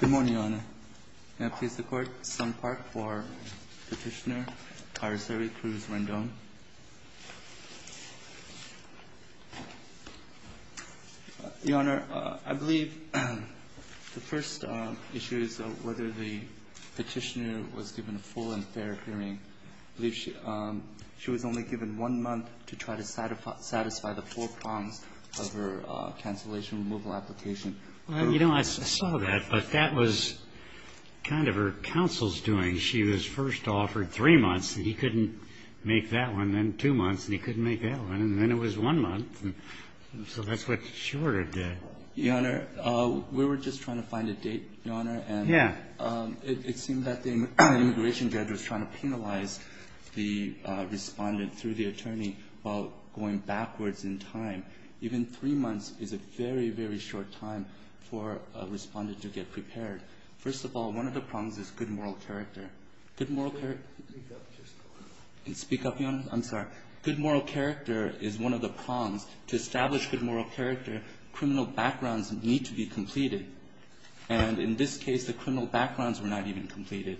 Good morning, Your Honor. May I please the Court, Sun Park, for Petitioner Kairoseri Cruz Rendon? Your Honor, I believe the first issue is whether the petitioner was given a full and fair hearing. I believe she was only given one month to try to satisfy the four prongs of her cancellation removal application. Well, you know, I saw that, but that was kind of her counsel's doing. She was first offered three months, and he couldn't make that one, then two months, and he couldn't make that one, and then it was one month, so that's what she ordered. Your Honor, we were just trying to find a date, Your Honor. Yeah. It seemed that the immigration judge was trying to penalize the respondent through the attorney while going backwards in time. Even three months is a very, very short time for a respondent to get prepared. First of all, one of the prongs is good moral character. Good moral character. Speak up just a little. Speak up, Your Honor. I'm sorry. Good moral character is one of the prongs. To establish good moral character, criminal backgrounds need to be completed. And in this case, the criminal backgrounds were not even completed.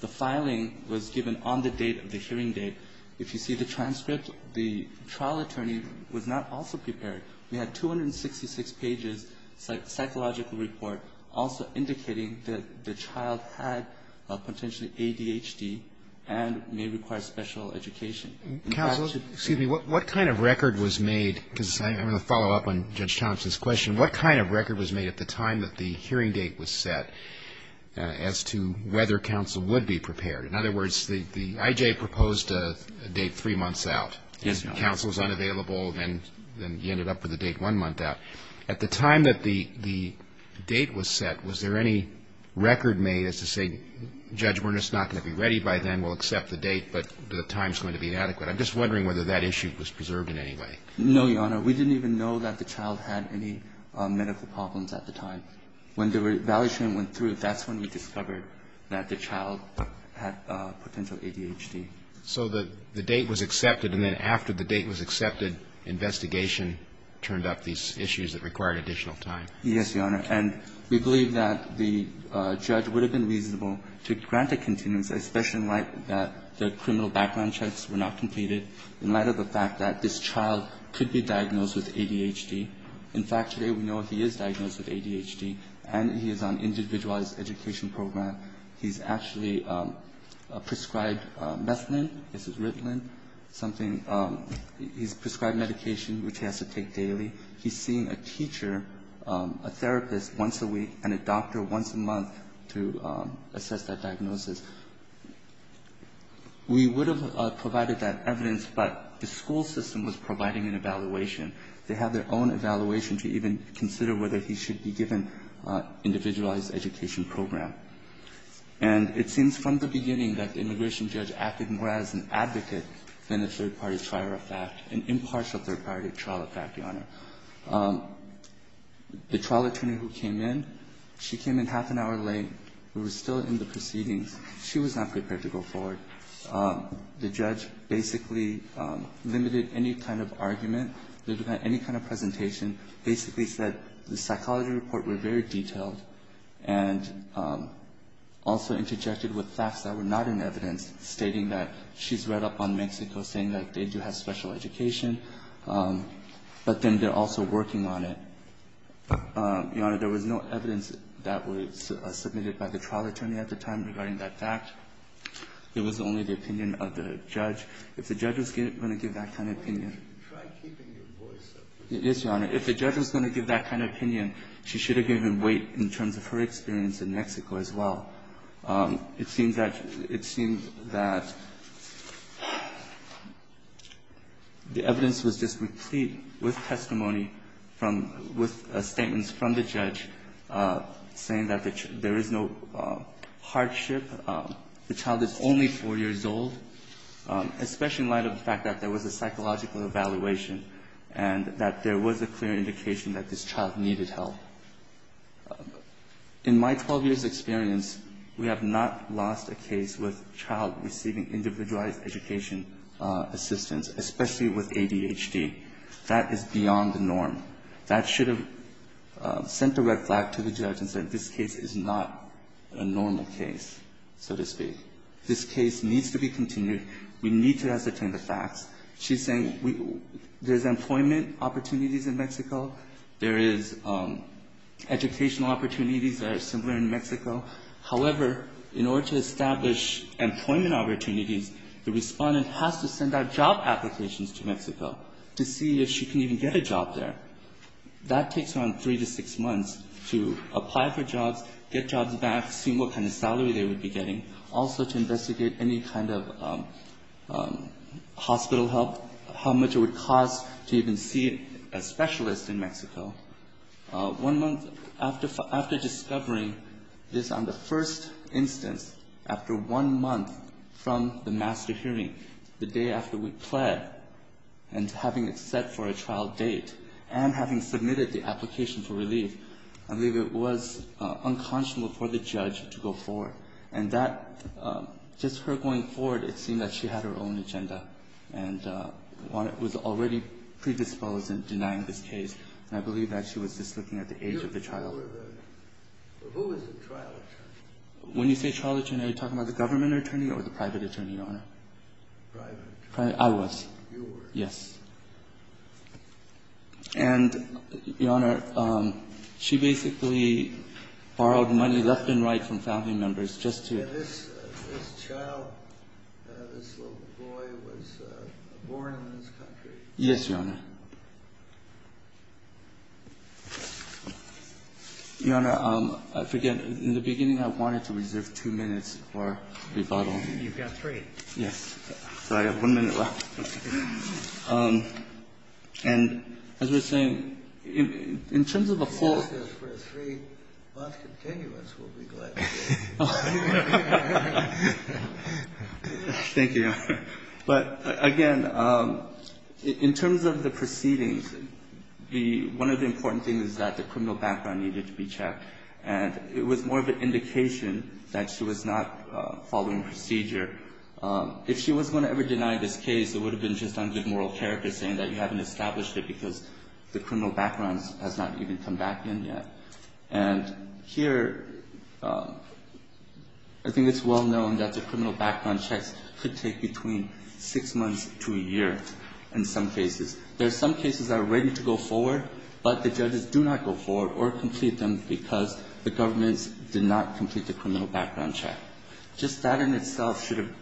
The filing was given on the date of the hearing date. If you see the transcript, the trial attorney was not also prepared. We had 266 pages, psychological report, also indicating that the child had potentially ADHD and may require special education. Counsel, excuse me. What kind of record was made, because I'm going to follow up on Judge Thompson's question. What kind of record was made at the time that the hearing date was set as to whether counsel would be prepared? In other words, the I.J. proposed a date three months out. Yes, Your Honor. Counsel is unavailable, and then he ended up with a date one month out. At the time that the date was set, was there any record made as to say, Judge, we're just not going to be ready by then, we'll accept the date, but the time is going to be inadequate. I'm just wondering whether that issue was preserved in any way. No, Your Honor. We didn't even know that the child had any medical problems at the time. When the evaluation went through, that's when we discovered that the child had potential ADHD. So the date was accepted, and then after the date was accepted, investigation turned up these issues that required additional time. Yes, Your Honor. And we believe that the judge would have been reasonable to grant a continence, especially in light that the criminal background checks were not completed, In fact, today we know he is diagnosed with ADHD, and he is on individualized education program. He's actually prescribed methadone. This is Ritalin, something he's prescribed medication, which he has to take daily. He's seen a teacher, a therapist once a week, and a doctor once a month to assess that diagnosis. We would have provided that evidence, but the school system was providing an evaluation. They have their own evaluation to even consider whether he should be given individualized education program. And it seems from the beginning that the immigration judge acted more as an advocate than a third-party trial of fact, an impartial third-party trial of fact, Your Honor. The trial attorney who came in, she came in half an hour late. We were still in the proceedings. She was not prepared to go forward. The judge basically limited any kind of argument. They didn't have any kind of presentation. Basically said the psychology report were very detailed and also interjected with facts that were not in evidence, stating that she's read up on Mexico, saying that they do have special education, but then they're also working on it. Your Honor, there was no evidence that was submitted by the trial attorney at the time regarding that fact. It was only the opinion of the judge. If the judge was going to give that kind of opinion. Yes, Your Honor. If the judge was going to give that kind of opinion, she should have given weight in terms of her experience in Mexico as well. It seems that the evidence was just replete with testimony from the statements from the judge, saying that there is no hardship. The child is only 4 years old. Especially in light of the fact that there was a psychological evaluation and that there was a clear indication that this child needed help. In my 12 years' experience, we have not lost a case with a child receiving individualized education assistance, especially with ADHD. That is beyond the norm. That should have sent a red flag to the judge and said this case is not a normal case, so to speak. This case needs to be continued. We need to ascertain the facts. She's saying there's employment opportunities in Mexico. There is educational opportunities that are similar in Mexico. However, in order to establish employment opportunities, the Respondent has to send out job applications to Mexico to see if she can even get a job there. That takes around 3 to 6 months to apply for jobs, get jobs back, see what kind of employment opportunities there are, and also to investigate any kind of hospital help, how much it would cost to even see a specialist in Mexico. One month after discovering this on the first instance, after one month from the master hearing, the day after we pled, and having it set for a trial date, and having submitted the application for relief, I believe it was unconscionable for the judge to go forward. And that, just her going forward, it seemed that she had her own agenda and was already predisposed in denying this case, and I believe that she was just looking at the age of the trial. When you say trial attorney, are you talking about the government attorney or the private attorney, Your Honor? I was. Yes. And, Your Honor, she basically borrowed money left and right from family members just to... This child, this little boy was born in this country. Yes, Your Honor. Your Honor, I forget, in the beginning I wanted to reserve 2 minutes for rebuttal. You've got 3. Yes. So I have 1 minute left. And as we're saying, in terms of the full... Thank you, Your Honor. But, again, in terms of the proceedings, one of the important things is that the criminal background needed to be checked. And it was more of an indication that she was not following procedure. If she was going to ever deny this case, it would have been just on good moral character saying that you haven't established it because the criminal background has not even come back in yet. And here, I think it's well known that the criminal background checks could take between 6 months to a year in some cases. There are some cases that are ready to go forward, but the judges do not go forward or complete them because the government did not complete the criminal background check. Just that in itself should have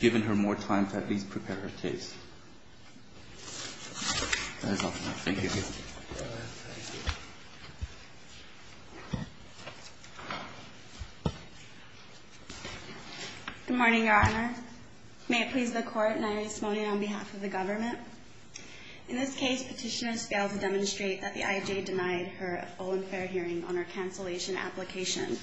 given her more time to at least prepare her case. That is all for now. Thank you. Good morning, Your Honor. May it please the Court, and I respond on behalf of the government. In this case, Petitioner failed to demonstrate that the IJ denied her full and fair hearing on her cancellation application.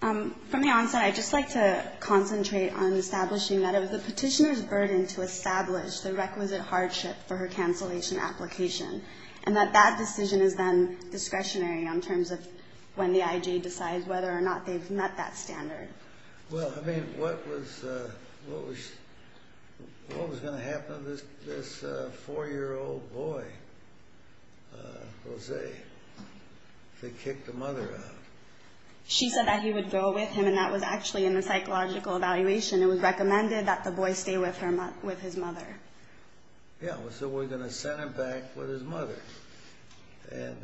From the onset, I'd just like to concentrate on establishing that it was the Petitioner's burden to establish the requisite hardship for her cancellation application. And that that decision is then discretionary in terms of when the IJ decides whether or not they've met that standard. Well, I mean, what was going to happen to this 4-year-old boy, Jose, if they kicked the mother out? She said that he would go with him, and that was actually in the psychological evaluation. It was recommended that the boy stay with his mother. Yeah, so we're going to send him back with his mother. And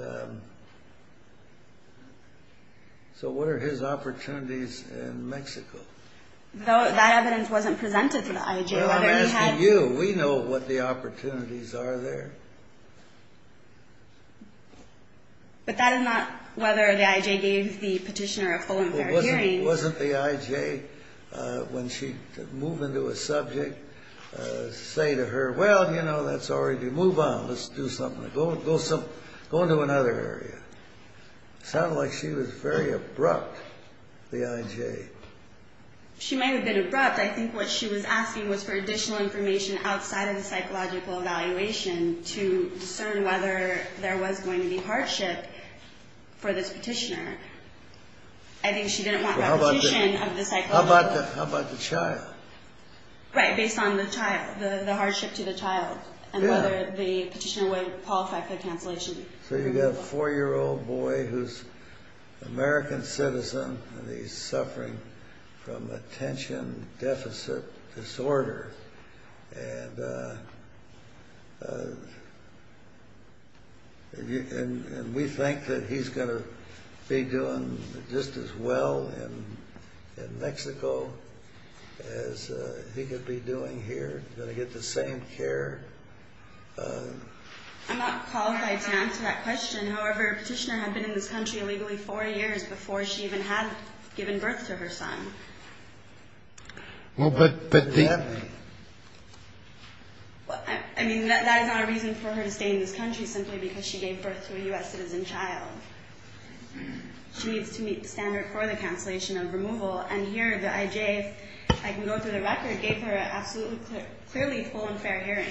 so what are his opportunities in Mexico? That evidence wasn't presented to the IJ. Well, I'm asking you. We know what the opportunities are there. But that is not whether the IJ gave the Petitioner a full and fair hearing. Wasn't the IJ, when she moved into a subject, say to her, well, you know, let's already move on. Let's do something. Go into another area. It sounded like she was very abrupt, the IJ. She might have been abrupt. I think what she was asking was for additional information outside of the psychological evaluation to discern whether there was going to be hardship for this Petitioner. I think she didn't want repetition of the psychological. How about the child? Right, based on the child, the hardship to the child, and whether the Petitioner would qualify for cancellation. So you've got a four-year-old boy who's an American citizen, and he's suffering from attention deficit disorder. And we think that he's going to be doing just as well in Mexico as he could be doing here, going to get the same care. I'm not qualified to answer that question. However, Petitioner had been in this country illegally four years before she even had given birth to her son. I mean, that is not a reason for her to stay in this country simply because she gave birth to a U.S. citizen child. She needs to meet the standard for the cancellation of removal. And here, the IJ, if I can go through the record, gave her an absolutely clearly full and fair hearing.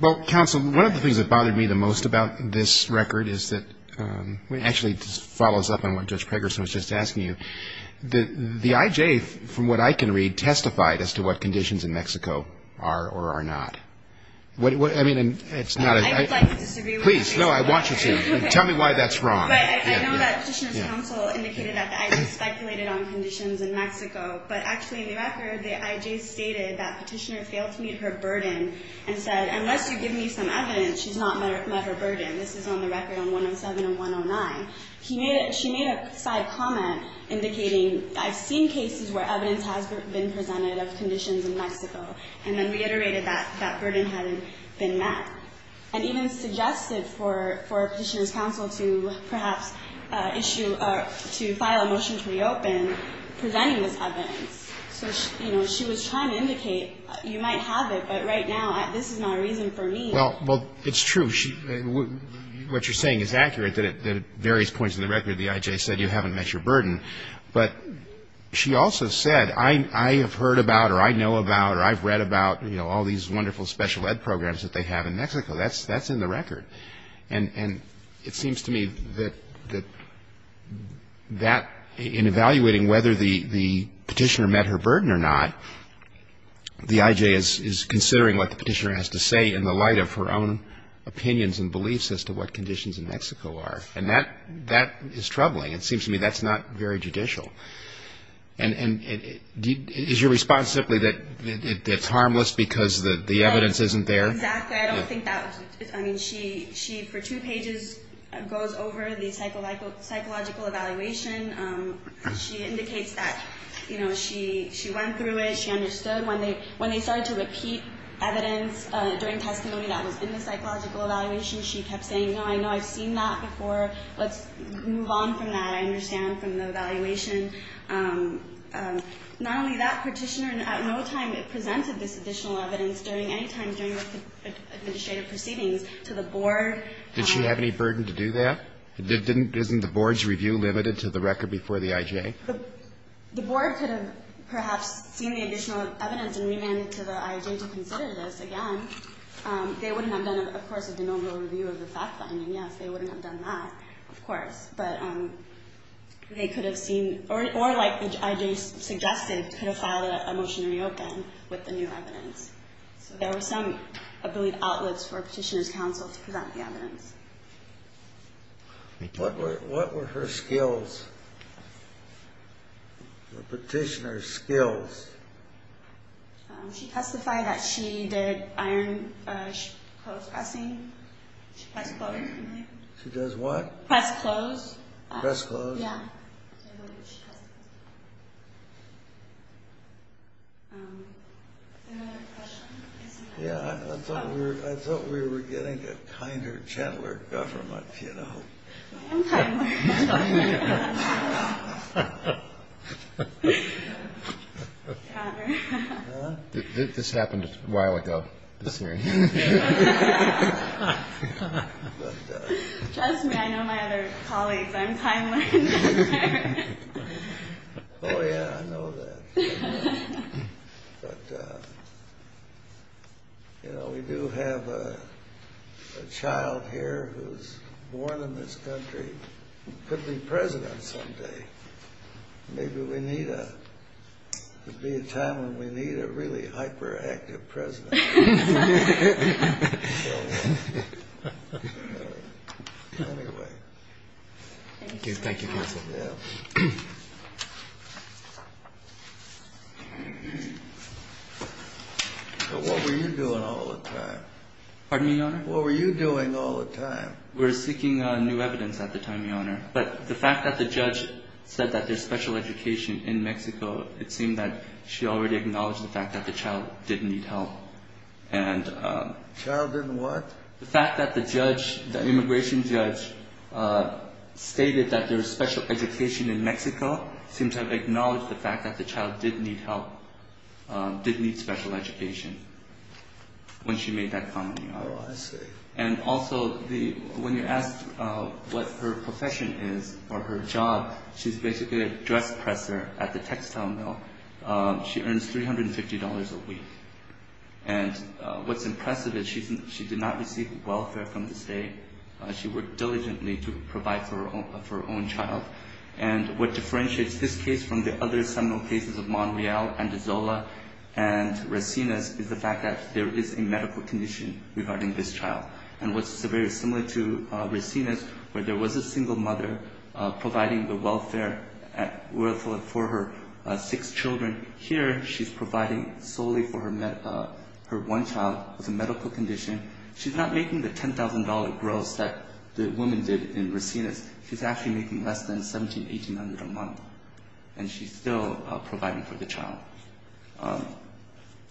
Well, counsel, one of the things that bothered me the most about this record is that the IJ, from what I can read, testified as to what conditions in Mexico are or are not. I mean, it's not a... I would like to disagree with you. Please, no, I want you to. Tell me why that's wrong. But I know that Petitioner's counsel indicated that the IJ speculated on conditions in Mexico. But actually, in the record, the IJ stated that Petitioner failed to meet her burden and said, unless you give me some evidence, she's not met her burden. This is on the record on 107 and 109. She made a side comment indicating, I've seen cases where evidence has been presented of conditions in Mexico, and then reiterated that that burden hadn't been met. And even suggested for Petitioner's counsel to perhaps issue or to file a motion to reopen presenting this evidence. So, you know, she was trying to indicate, you might have it, but right now, this is not a reason for me. Well, it's true. What you're saying is accurate, that at various points in the record, the IJ said you haven't met your burden. But she also said, I have heard about or I know about or I've read about, you know, all these wonderful special ed programs that they have in Mexico. That's in the record. And it seems to me that that, in evaluating whether the Petitioner met her burden or not, the IJ is considering what the Petitioner has to say in the light of her own opinions and beliefs as to what conditions in Mexico are. And that is troubling. It seems to me that's not very judicial. And is your response simply that it's harmless because the evidence isn't there? Exactly. I don't think that was. I mean, she for two pages goes over the psychological evaluation. She indicates that, you know, she went through it. She understood. When they started to repeat evidence during testimony that was in the psychological evaluation, she kept saying, no, I know I've seen that before. Let's move on from that. I understand from the evaluation. Not only that, Petitioner at no time presented this additional evidence during any time during the administrative proceedings to the board. Did she have any burden to do that? Isn't the board's review limited to the record before the IJ? The board could have perhaps seen the additional evidence and remanded to the IJ to consider this again. They wouldn't have done, of course, a denominal review of the fact-finding. Yes, they wouldn't have done that, of course. But they could have seen, or like the IJ suggested, could have filed a motion to reopen with the new evidence. So there were some, I believe, outlets for Petitioner's counsel to present the evidence. What were her skills, the Petitioner's skills? She testified that she did iron clothes pressing. She pressed clothes. She does what? Press clothes. Press clothes. Yeah. Another question? Yeah, I thought we were getting a kinder, gentler government, you know. I'm kinder. I'm kinder. This happened a while ago, this hearing. Trust me, I know my other colleagues. I'm time-learned. Oh, yeah, I know that. But, you know, we do have a child here who's born in this country who could be president someday. Maybe we need a time when we need a really hyperactive president. Anyway. Thank you, counsel. Yeah. What were you doing all the time? Pardon me, Your Honor? What were you doing all the time? We were seeking new evidence at the time, Your Honor. But the fact that the judge said that there's special education in Mexico, it seemed that she already acknowledged the fact that the child didn't need help. The child didn't what? The fact that the judge, the immigration judge, stated that there's special education in Mexico seemed to have acknowledged the fact that the child didn't need help, didn't need special education when she made that comment, Your Honor. Oh, I see. And also, when you asked what her profession is or her job, she's basically a dress presser at the textile mill. She earns $350 a week. And what's impressive is she did not receive welfare from the state. She worked diligently to provide for her own child. And what differentiates this case from the other seminal cases of Monreal, Andezola, and Resinas is the fact that there is a medical condition regarding this child. And what's very similar to Resinas where there was a single mother providing the welfare for her six children. Here she's providing solely for her one child with a medical condition. She's not making the $10,000 gross that the woman did in Resinas. She's actually making less than $1,700, $1,800 a month. And she's still providing for the child.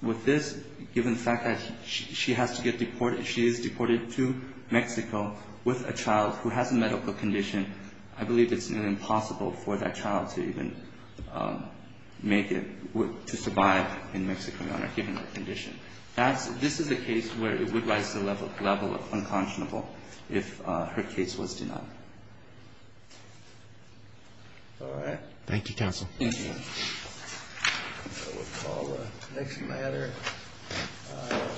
With this, given the fact that she has to get deported, she is deported to Mexico with a child who has a medical condition, I believe it's impossible for that child to even make it to survive in Mexico, Your Honor, given her condition. This is a case where it would rise to the level of unconscionable if her case was denied. Thank you, counsel. I will call the next matter.